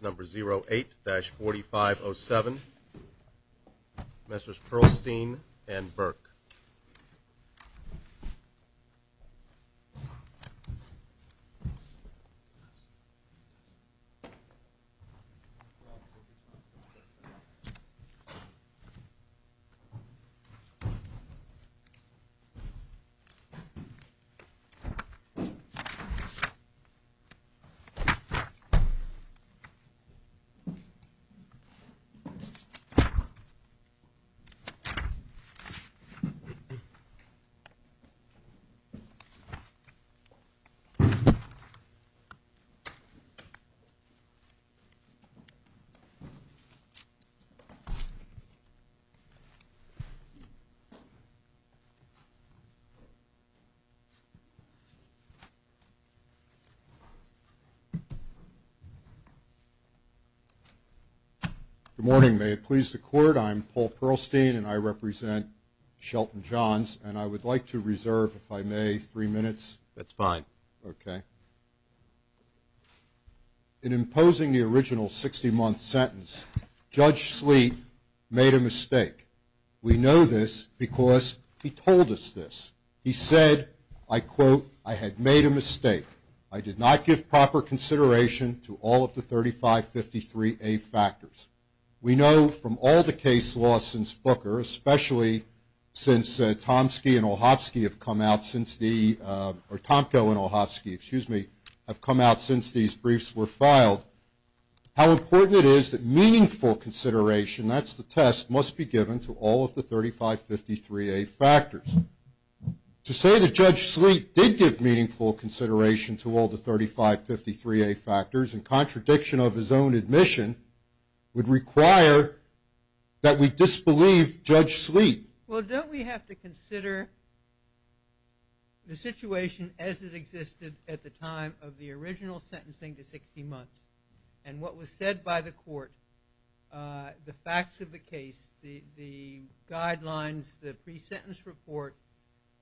number 08-4507, Professors Perlstein and Burke. Good morning. May it please the court, I'm Paul Perlstein, and I represent Shelton Johns, and I would like to reserve, if I may, three minutes. That's fine. Okay. In imposing the original 60-month sentence, Judge Sleet made a mistake. We know this because he told us this. He said, I quote, I had made a mistake. I did not give proper consideration to all of the 3553A factors. We know from all the case law since Booker, especially since Tomski and Olhofsky have come out since the, or Tomko and Olhofsky, excuse me, have come out since these briefs were filed, how important it is that meaningful consideration, that's the test, must be given to all of the 3553A factors. To say that Judge Sleet did give meaningful consideration to all the 3553A factors, in contradiction of his own admission, would require that we disbelieve Judge Sleet. Well, don't we have to consider the situation as it existed at the time of the original sentencing to 60 months, and what was said by the court, the facts of the case, the guidelines, the pre-sentence report,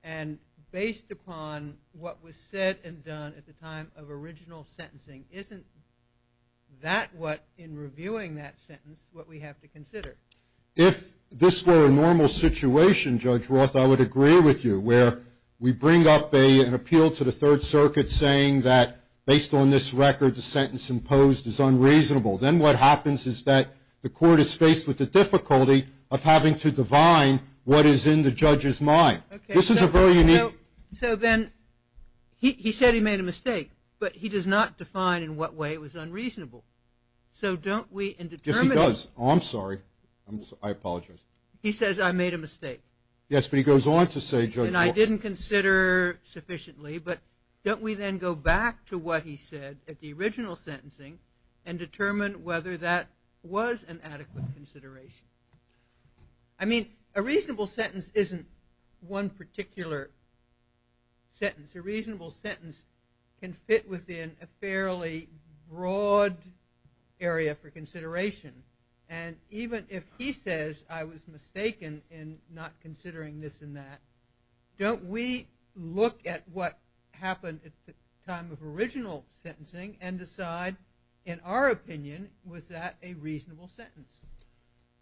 and based upon what was said and done at the time of original sentencing, isn't that what, in reviewing that sentence, what we have to consider? If this were a normal situation, Judge Roth, I would agree with you, where we bring up an appeal to the Third Circuit saying that based on this record, the sentence imposed is unreasonable. Then what happens is that the court is faced with the difficulty of having to define what is in the judge's mind. This is a very unique... Okay, so then he said he made a mistake, but he does not define in what way it was unreasonable. So don't we, in determining... Yes, he does. Oh, I'm sorry. I apologize. He says I made a mistake. Yes, but he goes on to say, Judge Roth... And I didn't consider sufficiently, but don't we then go back to what he said at the original sentencing and determine whether that was an adequate consideration? I mean, a reasonable sentence isn't one particular sentence. A reasonable sentence can fit within a fairly broad area for consideration, and even if he says I was mistaken in not considering this and that, don't we look at what happened at the time of original sentencing and decide, in our opinion, was that a reasonable sentence?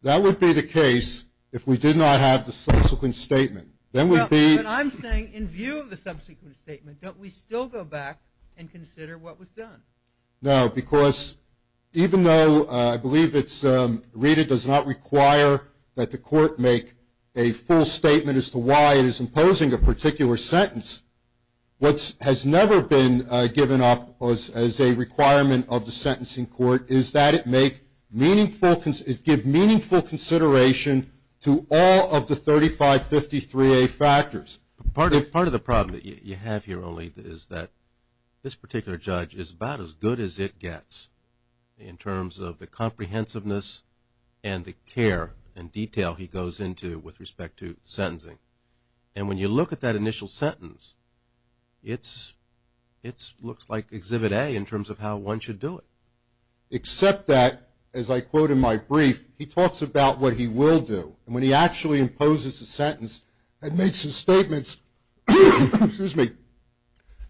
That would be the case if we did not have the subsequent statement. Then we'd be... No, but I'm saying in view of the subsequent statement, don't we still go back and consider what was done? No, because even though I believe it's... that the court make a full statement as to why it is imposing a particular sentence, what has never been given up as a requirement of the sentencing court is that it make meaningful... it give meaningful consideration to all of the 3553A factors. Part of the problem that you have here only is that this particular judge is about as good as it gets in terms of the comprehensiveness and the care and detail he goes into with respect to sentencing. And when you look at that initial sentence, it looks like Exhibit A in terms of how one should do it. Except that, as I quote in my brief, he talks about what he will do, and when he actually imposes a sentence and makes his statements, excuse me,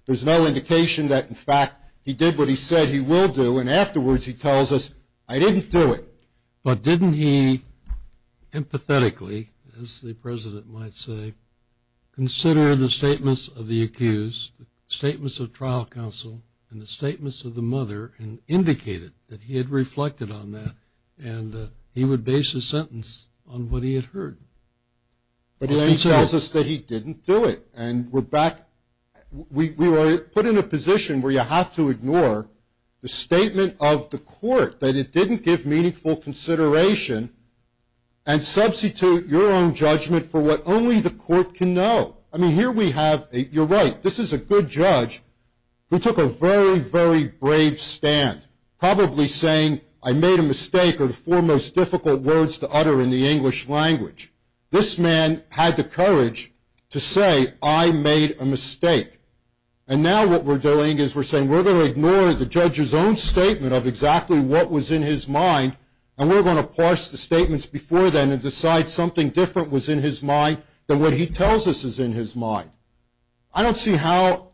there's no indication that, in fact, he did what he said he will do, and afterwards he tells us, I didn't do it. But didn't he empathetically, as the president might say, consider the statements of the accused, the statements of trial counsel, and the statements of the mother, and indicated that he had reflected on that, and he would base his sentence on what he had heard? But then he tells us that he didn't do it. And we're back, we were put in a position where you have to ignore the statement of the court, that it didn't give meaningful consideration, and substitute your own judgment for what only the court can know. I mean, here we have, you're right, this is a good judge who took a very, very brave stand, probably saying, I made a mistake are the four most difficult words to utter in the English language. This man had the courage to say, I made a mistake. And now what we're doing is we're saying, we're going to ignore the judge's own statement of exactly what was in his mind, and we're going to parse the statements before then and decide something different was in his mind than what he tells us is in his mind. I don't see how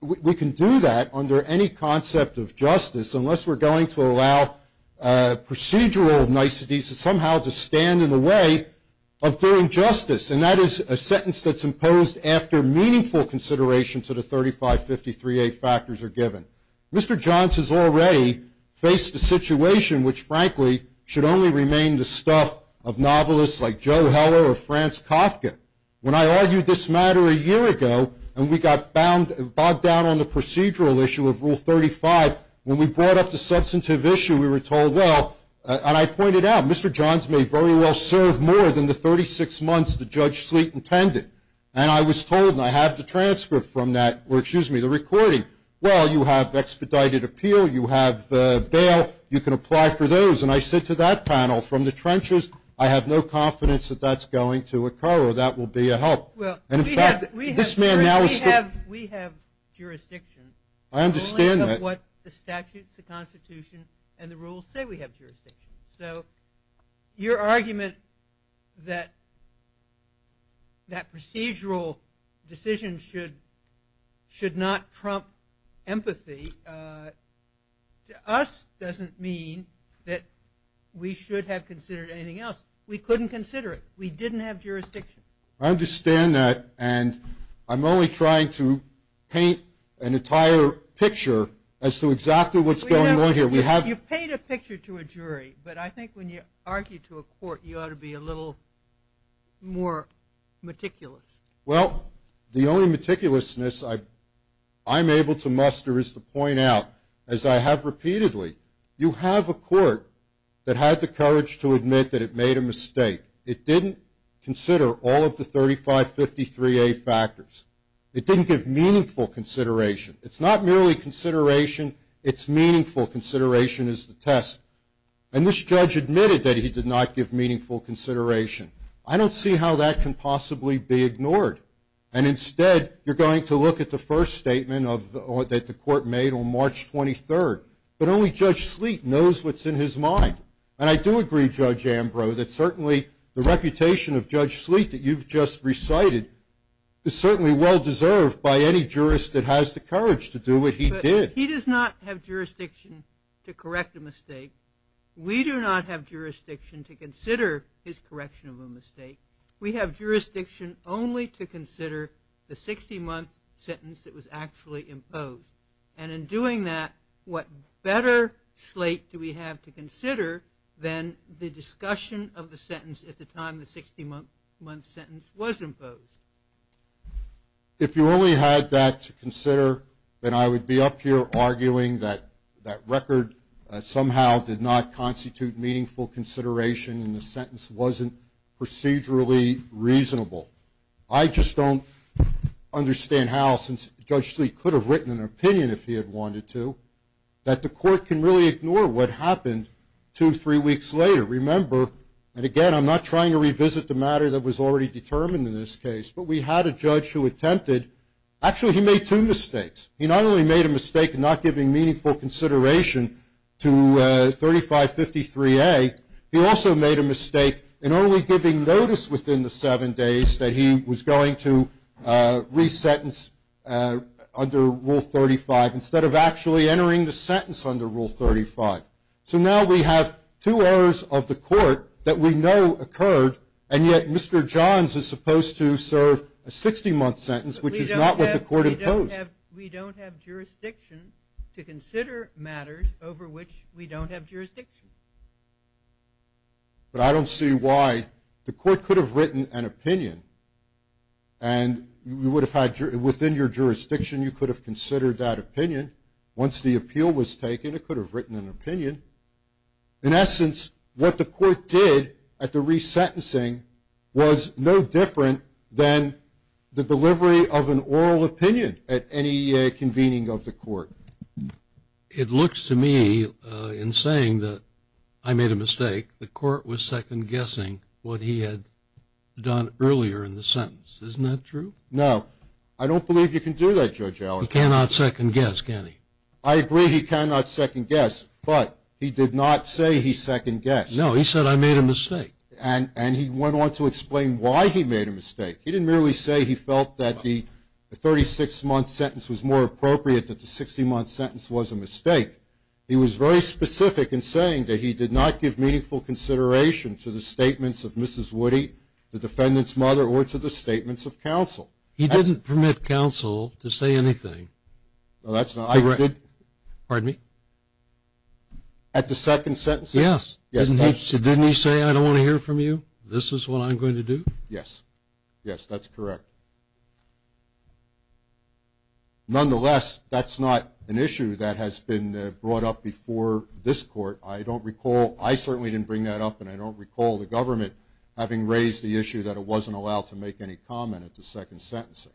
we can do that under any concept of justice, unless we're going to allow procedural niceties to somehow stand in the way of doing justice. And that is a sentence that's imposed after meaningful consideration to the 3553A factors are given. Mr. Johns has already faced a situation which, frankly, should only remain the stuff of novelists like Joe Heller or Franz Kafka. When I argued this matter a year ago, and we got bogged down on the procedural issue of Rule 35, when we brought up the substantive issue, we were told, well, and I pointed out, Mr. Johns may very well serve more than the 36 months that Judge Sleet intended. And I was told, and I have the transcript from that, or excuse me, the recording, well, you have expedited appeal, you have bail, you can apply for those. And I said to that panel, from the trenches, I have no confidence that that's going to occur, or that will be a help. And in fact, this man now is... Well, we have jurisdictions. I understand that. We only have what the statutes, the Constitution, and the rules say we have jurisdictions. So your argument that that procedural decision should not trump empathy, to us doesn't mean that we should have considered anything else. We couldn't consider it. We didn't have jurisdictions. I understand that. And I'm only trying to paint an entire picture as to exactly what's going on here. You paint a picture to a jury, but I think when you argue to a court, you ought to be a little more meticulous. Well, the only meticulousness I'm able to muster is to point out, as I have repeatedly, you have a court that had the courage to admit that it made a mistake. It didn't consider all of the 3553A factors. It didn't give meaningful consideration. It's not merely consideration, it's meaningful consideration is the test. And this judge admitted that he did not give meaningful consideration. I don't see how that can possibly be ignored. And instead, you're going to look at the first statement that the court made on March 23rd. But only Judge Sleet knows what's in his mind. And I do agree, Judge Ambrose, that certainly the reputation of Judge Sleet that you've just recited is certainly well-deserved by any jurist that has the courage to do what he did. But he does not have jurisdiction to correct a mistake. We do not have jurisdiction to consider his correction of a mistake. We have jurisdiction only to consider the 60-month sentence that was actually imposed. And in doing that, what better slate do we have to consider than the discussion of the sentence at the time If you only had that to consider, then I would be up here arguing that that record somehow did not constitute meaningful consideration and the sentence wasn't procedurally reasonable. I just don't understand how, since Judge Sleet could have written an opinion if he had wanted to, that the court can really ignore what happened two, three weeks later. Remember, and again, I'm not trying to revisit the matter that was already determined in this case, but we had a judge who attempted. Actually, he made two mistakes. He not only made a mistake in not giving meaningful consideration to 3553A, he also made a mistake in only giving notice within the seven days that he was going to resentence under Rule 35, instead of actually entering the sentence under Rule 35. So now we have two errors of the court that we know occurred, and yet Mr. Johns is supposed to serve a 60-month sentence, which is not what the court imposed. We don't have jurisdiction to consider matters over which we don't have jurisdiction. But I don't see why. The court could have written an opinion, and within your jurisdiction you could have considered that opinion. Once the appeal was taken, it could have written an opinion. In essence, what the court did at the resentencing was no different than the delivery of an oral opinion at any convening of the court. It looks to me, in saying that I made a mistake, the court was second-guessing what he had done earlier in the sentence. Isn't that true? No. I don't believe you can do that, Judge Alexander. He cannot second-guess, can he? I agree he cannot second-guess, but he did not say he second-guessed. No, he said I made a mistake. And he went on to explain why he made a mistake. He didn't merely say he felt that the 36-month sentence was more appropriate than the 60-month sentence was a mistake. He was very specific in saying that he did not give meaningful consideration to the statements of Mrs. Woody, the defendant's mother, or to the statements of counsel. He didn't permit counsel to say anything. Pardon me? At the second sentencing? Yes. Didn't he say, I don't want to hear from you, this is what I'm going to do? Yes. Yes, that's correct. Nonetheless, that's not an issue that has been brought up before this court. I don't recall ‑‑ I certainly didn't bring that up, and I don't recall the government having raised the issue that it wasn't allowed to make any comment at the second sentencing.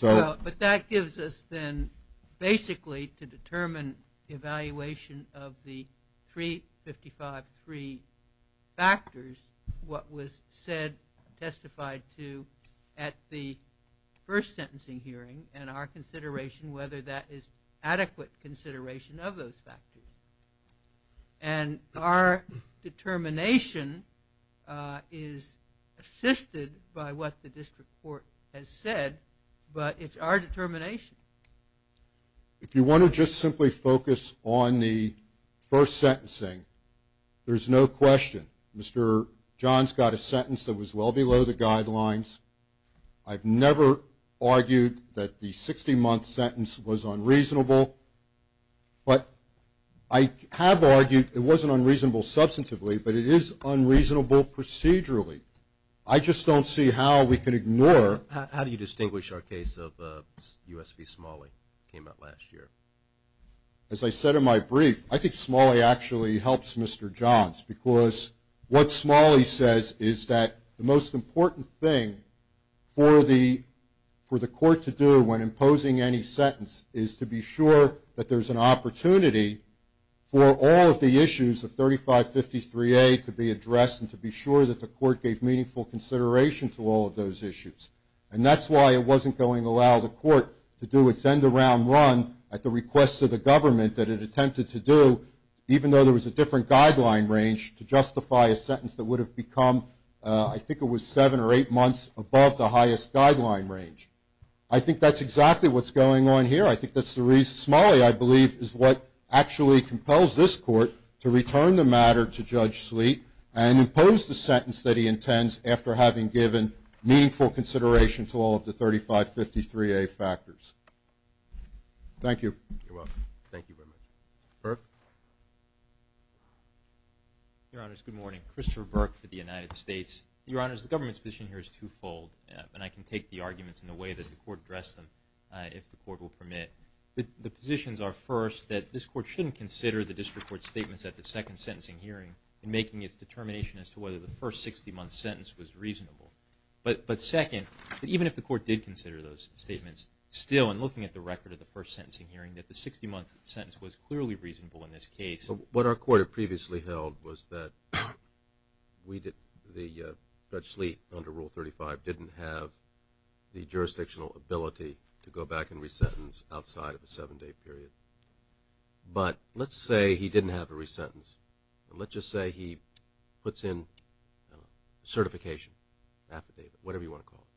But that gives us then basically to determine the evaluation of the 355.3 factors, what was said, testified to at the first sentencing hearing and our consideration whether that is adequate consideration of those factors. And our determination is assisted by what the district court has said, but it's our determination. If you want to just simply focus on the first sentencing, there's no question. Mr. Johns got a sentence that was well below the guidelines. I've never argued that the 60-month sentence was unreasonable, but I have argued it wasn't unreasonable substantively, but it is unreasonable procedurally. I just don't see how we could ignore ‑‑ How do you distinguish our case of U.S. v. Smalley that came out last year? As I said in my brief, I think Smalley actually helps Mr. Johns because what Smalley says is that the most important thing for the court to do when imposing any sentence is to be sure that there's an opportunity for all of the issues of 3553A to be addressed and to be sure that the court gave meaningful consideration to all of those issues. And that's why it wasn't going to allow the court to do its end around run at the request of the government that it attempted to do, even though there was a different guideline range to justify a sentence that would have become, I think it was seven or eight months above the highest guideline range. I think that's exactly what's going on here. I think that's the reason. Smalley, I believe, is what actually compels this court to return the matter to Judge Sleet and impose the sentence that he intends after having given meaningful consideration to all of the 3553A factors. Thank you. You're welcome. Thank you very much. Burke. Your Honors, good morning. Christopher Burke for the United States. Your Honors, the government's position here is twofold, and I can take the arguments in the way that the court addressed them if the court will permit. The positions are, first, that this court shouldn't consider the district court's statements at the second sentencing hearing in making its determination as to whether the first 60-month sentence was reasonable. But, second, even if the court did consider those statements, still in looking at the record of the first sentencing hearing, that the 60-month sentence was clearly reasonable in this case. What our court had previously held was that Judge Sleet, under Rule 35, didn't have the jurisdictional ability to go back and re-sentence outside of a seven-day period. But let's say he didn't have a re-sentence. Let's just say he puts in certification, affidavit, whatever you want to call it,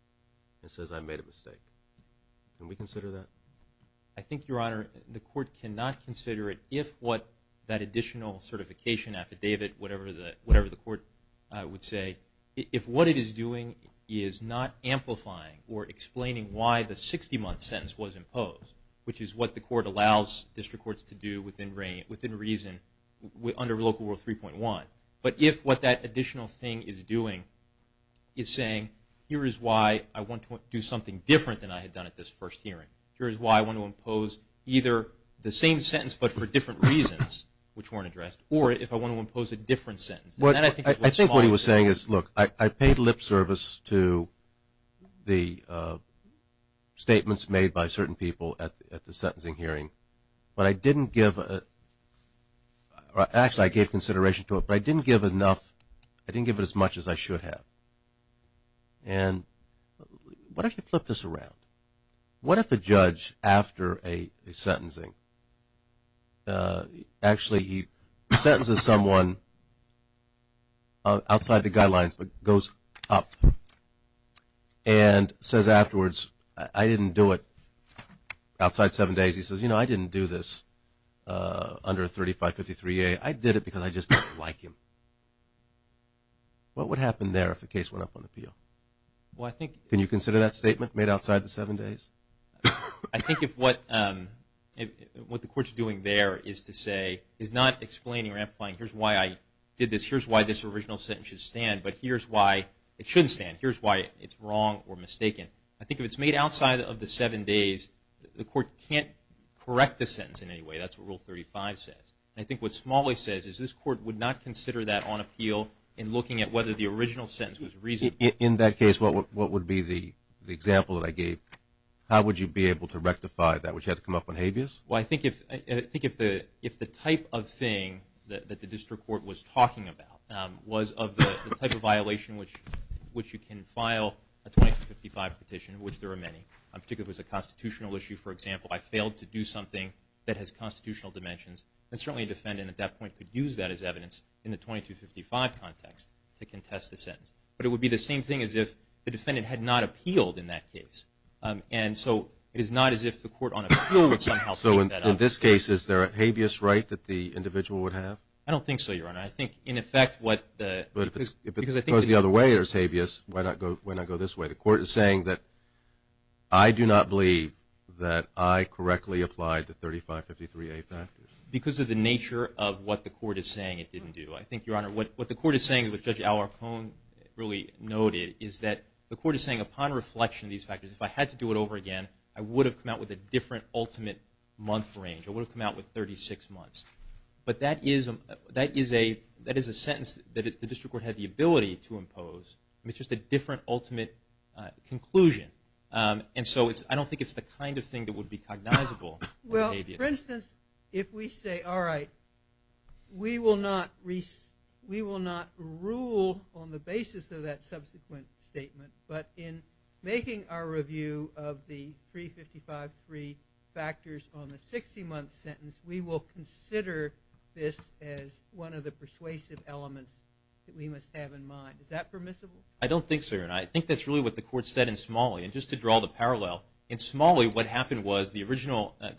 and says, I made a mistake. Can we consider that? I think, Your Honor, the court cannot consider it if what that additional certification, affidavit, whatever the court would say, if what it is doing is not amplifying or explaining why the 60-month sentence was imposed, which is what the court allows district courts to do within reason under Local Rule 3.1, but if what that additional thing is doing is saying, here is why I want to do something different than I had done at this first hearing. Here is why I want to impose either the same sentence but for different reasons, which weren't addressed, or if I want to impose a different sentence. I think what he was saying is, look, I paid lip service to the statements made by certain people at the sentencing hearing, but I didn't give, actually I gave consideration to it, but I didn't give enough, I didn't give it as much as I should have. And what if you flip this around? What if a judge, after a sentencing, actually he sentences someone outside the guidelines but goes up and says afterwards, I didn't do it outside seven days. He says, you know, I didn't do this under 3553A. I did it because I just didn't like him. Can you consider that statement made outside the seven days? I think if what the court is doing there is to say, is not explaining or amplifying here is why I did this, here is why this original sentence should stand, but here is why it shouldn't stand. Here is why it is wrong or mistaken. I think if it is made outside of the seven days, the court can't correct the sentence in any way. That is what Rule 35 says. I think what Smalley says is this court would not consider that on appeal in looking at whether the original sentence was reasonable. In that case, what would be the example that I gave? How would you be able to rectify that? Would you have to come up with habeas? Well, I think if the type of thing that the district court was talking about was of the type of violation which you can file a 2255 petition, which there are many, particularly if it was a constitutional issue, for example, I failed to do something that has constitutional dimensions, then certainly a defendant at that point could use that as evidence in the 2255 context to contest the sentence. But it would be the same thing as if the defendant had not appealed in that case. And so it is not as if the court on appeal would somehow take that up. So in this case, is there a habeas right that the individual would have? I don't think so, Your Honor. I think, in effect, what the – But if it goes the other way or is habeas, why not go this way? The court is saying that I do not believe that I correctly applied the 3553A factors. Because of the nature of what the court is saying it didn't do. I think, Your Honor, what the court is saying, which Judge Alarcon really noted, is that the court is saying upon reflection of these factors, if I had to do it over again, I would have come out with a different ultimate month range. I would have come out with 36 months. But that is a sentence that the district court had the ability to impose. It's just a different ultimate conclusion. And so I don't think it's the kind of thing that would be cognizable. Well, for instance, if we say, all right, we will not rule on the basis of that subsequent statement, but in making our review of the 3553 factors on the 60-month sentence, we will consider this as one of the persuasive elements that we must have in mind. Is that permissible? I don't think so, Your Honor. And just to draw the parallel, in Smalley what happened was the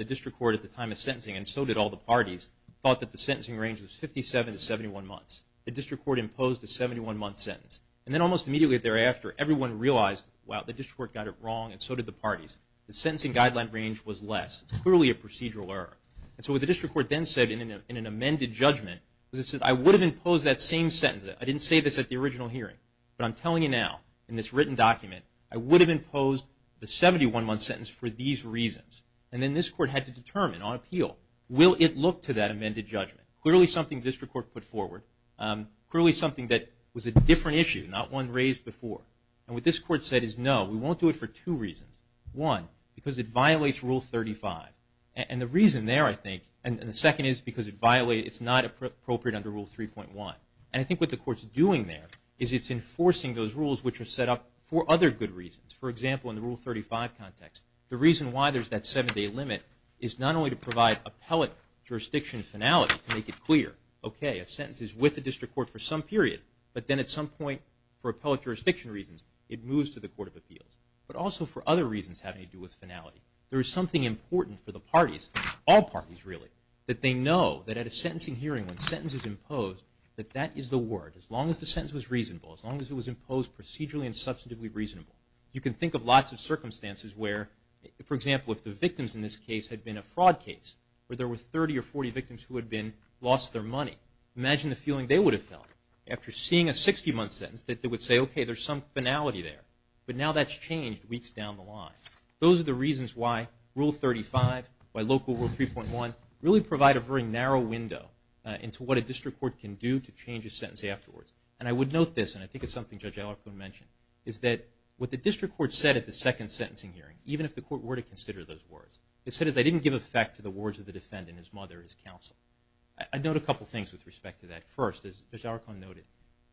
district court at the time of sentencing, and so did all the parties, thought that the sentencing range was 57 to 71 months. The district court imposed a 71-month sentence. And then almost immediately thereafter everyone realized, wow, the district court got it wrong and so did the parties. The sentencing guideline range was less. It's clearly a procedural error. And so what the district court then said in an amended judgment was it said, I would have imposed that same sentence. I didn't say this at the original hearing. But I'm telling you now, in this written document, I would have imposed the 71-month sentence for these reasons. And then this court had to determine on appeal, will it look to that amended judgment? Clearly something the district court put forward. Clearly something that was a different issue, not one raised before. And what this court said is, no, we won't do it for two reasons. One, because it violates Rule 35. And the reason there, I think, and the second is because it's not appropriate under Rule 3.1. And I think what the court's doing there is it's enforcing those rules which are set up for other good reasons. For example, in the Rule 35 context, the reason why there's that seven-day limit is not only to provide appellate jurisdiction finality to make it clear, okay, a sentence is with the district court for some period, but then at some point for appellate jurisdiction reasons it moves to the Court of Appeals, but also for other reasons having to do with finality. There is something important for the parties, all parties really, that they know that at a sentencing hearing when a sentence is imposed, that that is the word, as long as the sentence was reasonable, as long as it was imposed procedurally and substantively reasonable. You can think of lots of circumstances where, for example, if the victims in this case had been a fraud case, where there were 30 or 40 victims who had lost their money, imagine the feeling they would have felt after seeing a 60-month sentence, that they would say, okay, there's some finality there. But now that's changed weeks down the line. Those are the reasons why Rule 35, why Local Rule 3.1, really provide a very narrow window into what a district court can do to change a sentence afterwards. And I would note this, and I think it's something Judge Alarcon mentioned, is that what the district court said at the second sentencing hearing, even if the court were to consider those words, it said, as I didn't give effect to the words of the defendant, his mother, his counsel. I'd note a couple things with respect to that. First, as Judge Alarcon noted,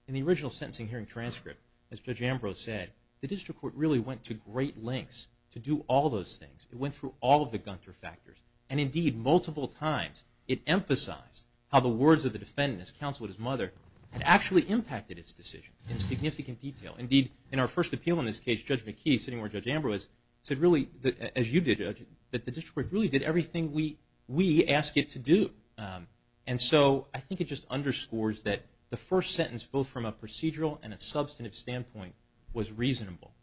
in the original sentencing hearing transcript, as Judge Ambrose said, the district court really went to great lengths to do all those things. It went through all of the Gunter factors. And indeed, multiple times, it emphasized how the words of the defendant, his counsel and his mother, had actually impacted its decision in significant detail. Indeed, in our first appeal in this case, Judge McKee, sitting where Judge Ambrose is, said really, as you did, that the district court really did everything we asked it to do. And so I think it just underscores that the first sentence, both from a procedural and a substantive standpoint, was reasonable.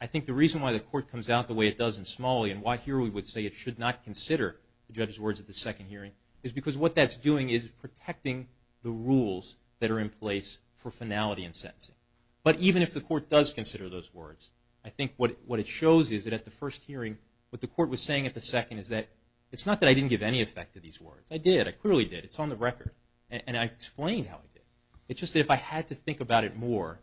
I think the reason why the court comes out the way it does in Smalley, and why here we would say it should not consider the judge's words at the second hearing, is because what that's doing is protecting the rules that are in place for finality in sentencing. But even if the court does consider those words, I think what it shows is that at the first hearing, what the court was saying at the second, is that it's not that I didn't give any effect to these words. I did. I clearly did. It's on the record. And I explained how I did. It's just that if I had to think about it more,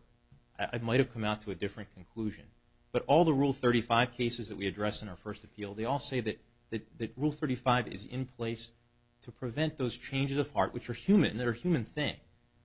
I might have come out to a different conclusion. But all the Rule 35 cases that we address in our first appeal, they all say that Rule 35 is in place to prevent those changes of heart, which are human, that are a human thing,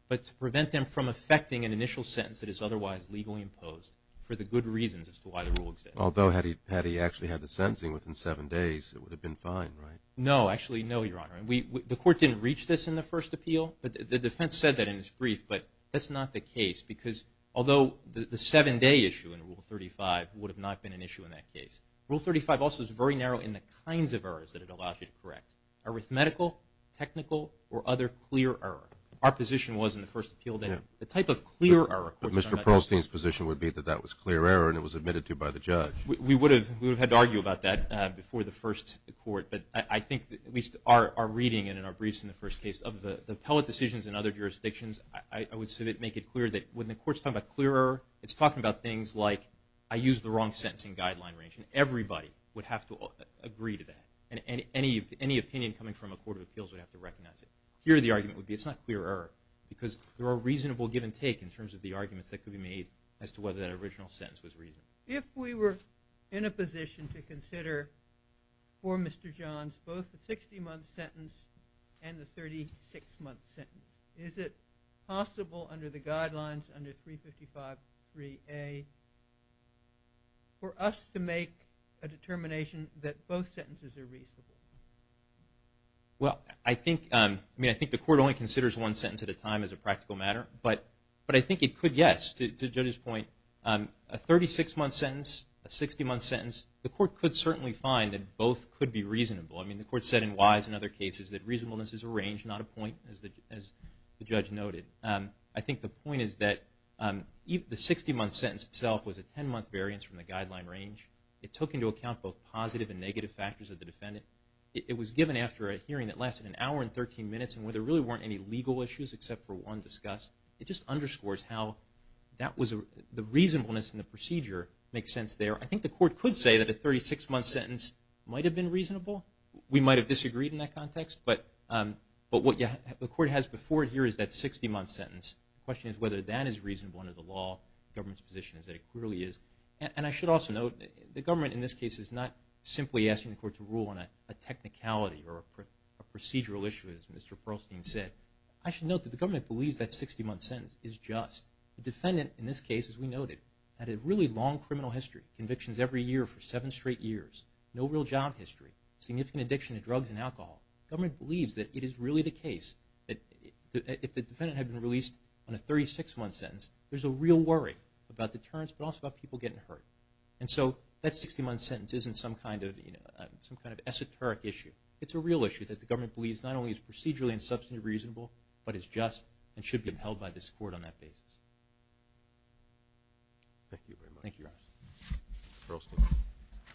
but to prevent them from affecting an initial sentence that is otherwise legally imposed for the good reasons as to why the rule exists. Although, had he actually had the sentencing within seven days, it would have been fine, right? No. Actually, no, Your Honor. The court didn't reach this in the first appeal. The defense said that in its brief, but that's not the case because although the seven-day issue in Rule 35 would have not been an issue in that case, Rule 35 also is very narrow in the kinds of errors that it allows you to correct, arithmetical, technical, or other clear error. Our position was in the first appeal that the type of clear error. Mr. Prolstein's position would be that that was clear error and it was admitted to by the judge. We would have had to argue about that before the first court, but I think we are reading it in our briefs in the first case. Of the appellate decisions in other jurisdictions, I would make it clear that when the court's talking about clear error, it's talking about things like I used the wrong sentencing guideline range, and everybody would have to agree to that, and any opinion coming from a court of appeals would have to recognize it. Here the argument would be it's not clear error because there are reasonable give and take in terms of the arguments that could be made as to whether that original sentence was reasonable. If we were in a position to consider for Mr. Johns both the 60-month sentence and the 36-month sentence, is it possible under the guidelines under 355.3a for us to make a determination that both sentences are reasonable? Well, I think the court only considers one sentence at a time as a practical matter, but I think it could, yes. To the judge's point, a 36-month sentence, a 60-month sentence, the court could certainly find that both could be reasonable. I mean, the court said in Wise and other cases that reasonableness is a range, not a point, as the judge noted. I think the point is that the 60-month sentence itself was a 10-month variance from the guideline range. It took into account both positive and negative factors of the defendant. It was given after a hearing that lasted an hour and 13 minutes and where there really weren't any legal issues except for one discussed. It just underscores how the reasonableness in the procedure makes sense there. I think the court could say that a 36-month sentence might have been reasonable. We might have disagreed in that context, but what the court has before it here is that 60-month sentence. The question is whether that is reasonable under the law. The government's position is that it clearly is. And I should also note the government in this case is not simply asking the court to rule on a technicality or a procedural issue, as Mr. Perlstein said. I should note that the government believes that 60-month sentence is just. The defendant in this case, as we noted, had a really long criminal history, convictions every year for seven straight years, no real job history, significant addiction to drugs and alcohol. The government believes that it is really the case that if the defendant had been released on a 36-month sentence, there's a real worry about deterrence but also about people getting hurt. And so that 60-month sentence isn't some kind of esoteric issue. It's a real issue that the government believes not only is procedurally and substantially reasonable, but is just and should be upheld by this court on that basis. Thank you very much. Thank you, Your Honor. Mr.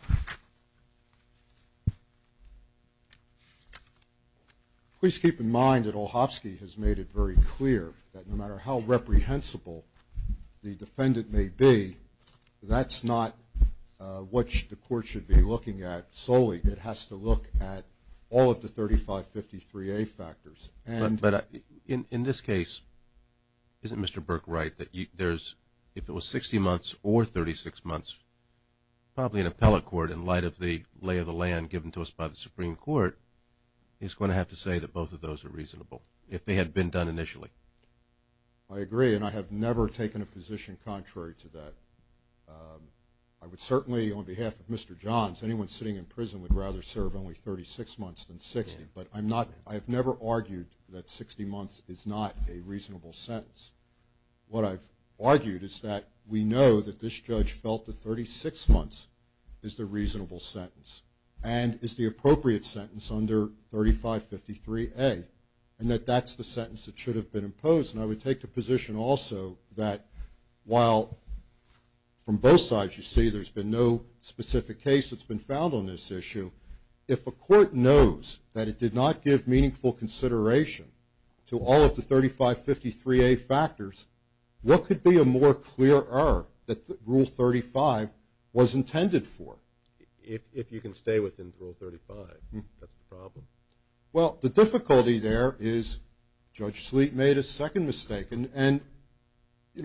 Perlstein. Please keep in mind that Olhofsky has made it very clear that no matter how reprehensible the defendant may be, that's not what the court should be looking at solely. It has to look at all of the 3553A factors. But in this case, isn't Mr. Burke right that if it was 60 months or 36 months, probably an appellate court in light of the lay of the land given to us by the Supreme Court is going to have to say that both of those are reasonable if they had been done initially? I agree, and I have never taken a position contrary to that. I would certainly, on behalf of Mr. Johns, anyone sitting in prison would rather serve only 36 months than 60, but I have never argued that 60 months is not a reasonable sentence. What I've argued is that we know that this judge felt that 36 months is the reasonable sentence and is the appropriate sentence under 3553A, and that that's the sentence that should have been imposed, and I would take the position also that while from both sides you see there's been no specific case that's been found on this issue, if a court knows that it did not give meaningful consideration to all of the 3553A factors, what could be a more clear error that Rule 35 was intended for? If you can stay within Rule 35, that's the problem. Well, the difficulty there is Judge Sleet made a second mistake, and he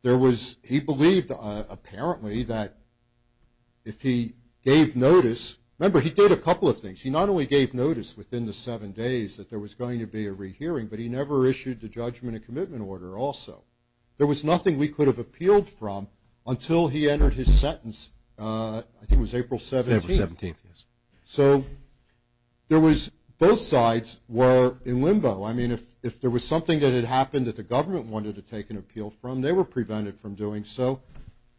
believed apparently that if he gave notice, remember he did a couple of things. He not only gave notice within the seven days that there was going to be a rehearing, but he never issued the judgment and commitment order also. There was nothing we could have appealed from until he entered his sentence, I think it was April 17th. So both sides were in limbo. I mean if there was something that had happened that the government wanted to take an appeal from, they were prevented from doing so.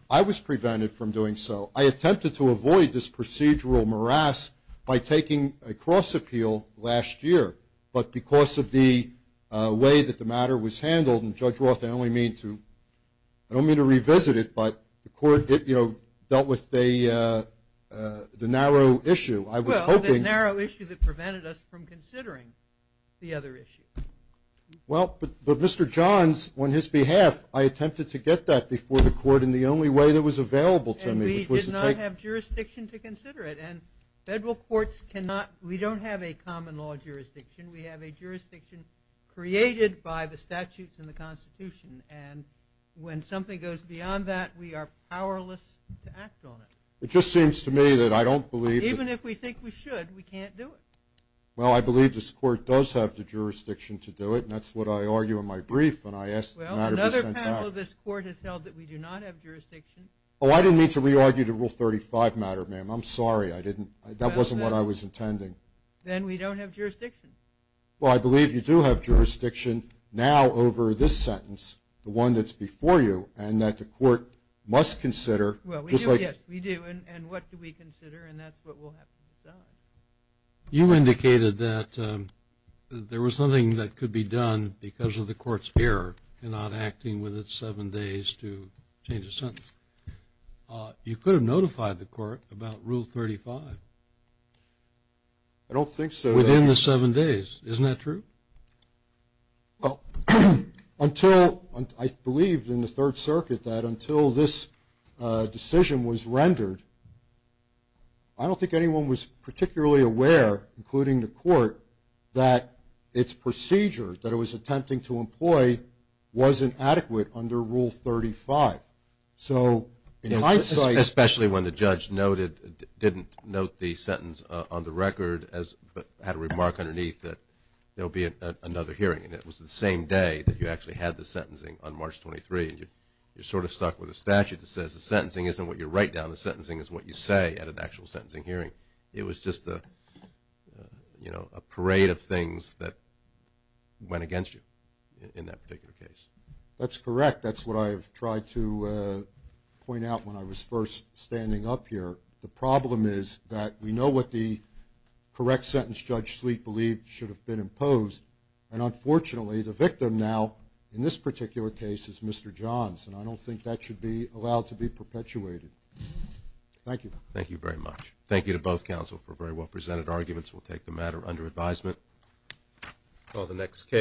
I was prevented from doing so. I attempted to avoid this procedural morass by taking a cross appeal last year, but because of the way that the matter was handled, and Judge Roth, I don't mean to revisit it, but the court dealt with the narrow issue. Well, the narrow issue that prevented us from considering the other issue. Well, but Mr. Johns, on his behalf, I attempted to get that before the court in the only way that was available to me. And we did not have jurisdiction to consider it, and federal courts cannot, we don't have a common law jurisdiction. We have a jurisdiction created by the statutes in the Constitution, and when something goes beyond that, we are powerless to act on it. It just seems to me that I don't believe that. Even if we think we should, we can't do it. Well, I believe this court does have the jurisdiction to do it, and that's what I argue in my brief when I asked the matter to be sent back. Well, another panel of this court has held that we do not have jurisdiction. Oh, I didn't mean to re-argue the Rule 35 matter, ma'am. I'm sorry. That wasn't what I was intending. Then we don't have jurisdiction. Well, I believe you do have jurisdiction now over this sentence, the one that's before you, and that the court must consider. Well, we do. Yes, we do. And what do we consider? And that's what we'll have to decide. You indicated that there was something that could be done because of the court's error in not acting within seven days to change a sentence. You could have notified the court about Rule 35. I don't think so. Within the seven days. Isn't that true? Well, I believe in the Third Circuit that until this decision was rendered, I don't think anyone was particularly aware, including the court, that its procedure that it was attempting to employ wasn't adequate under Rule 35. Especially when the judge didn't note the sentence on the record but had a remark underneath that there will be another hearing, and it was the same day that you actually had the sentencing on March 23. You're sort of stuck with a statute that says the sentencing isn't what you write down. The sentencing is what you say at an actual sentencing hearing. It was just a parade of things that went against you in that particular case. That's correct. In fact, that's what I've tried to point out when I was first standing up here. The problem is that we know what the correct sentence Judge Sleet believed should have been imposed, and unfortunately the victim now in this particular case is Mr. Johns, and I don't think that should be allowed to be perpetuated. Thank you. Thank you very much. Thank you to both counsel for very well-presented arguments. We'll take the matter under advisement. Call the next case.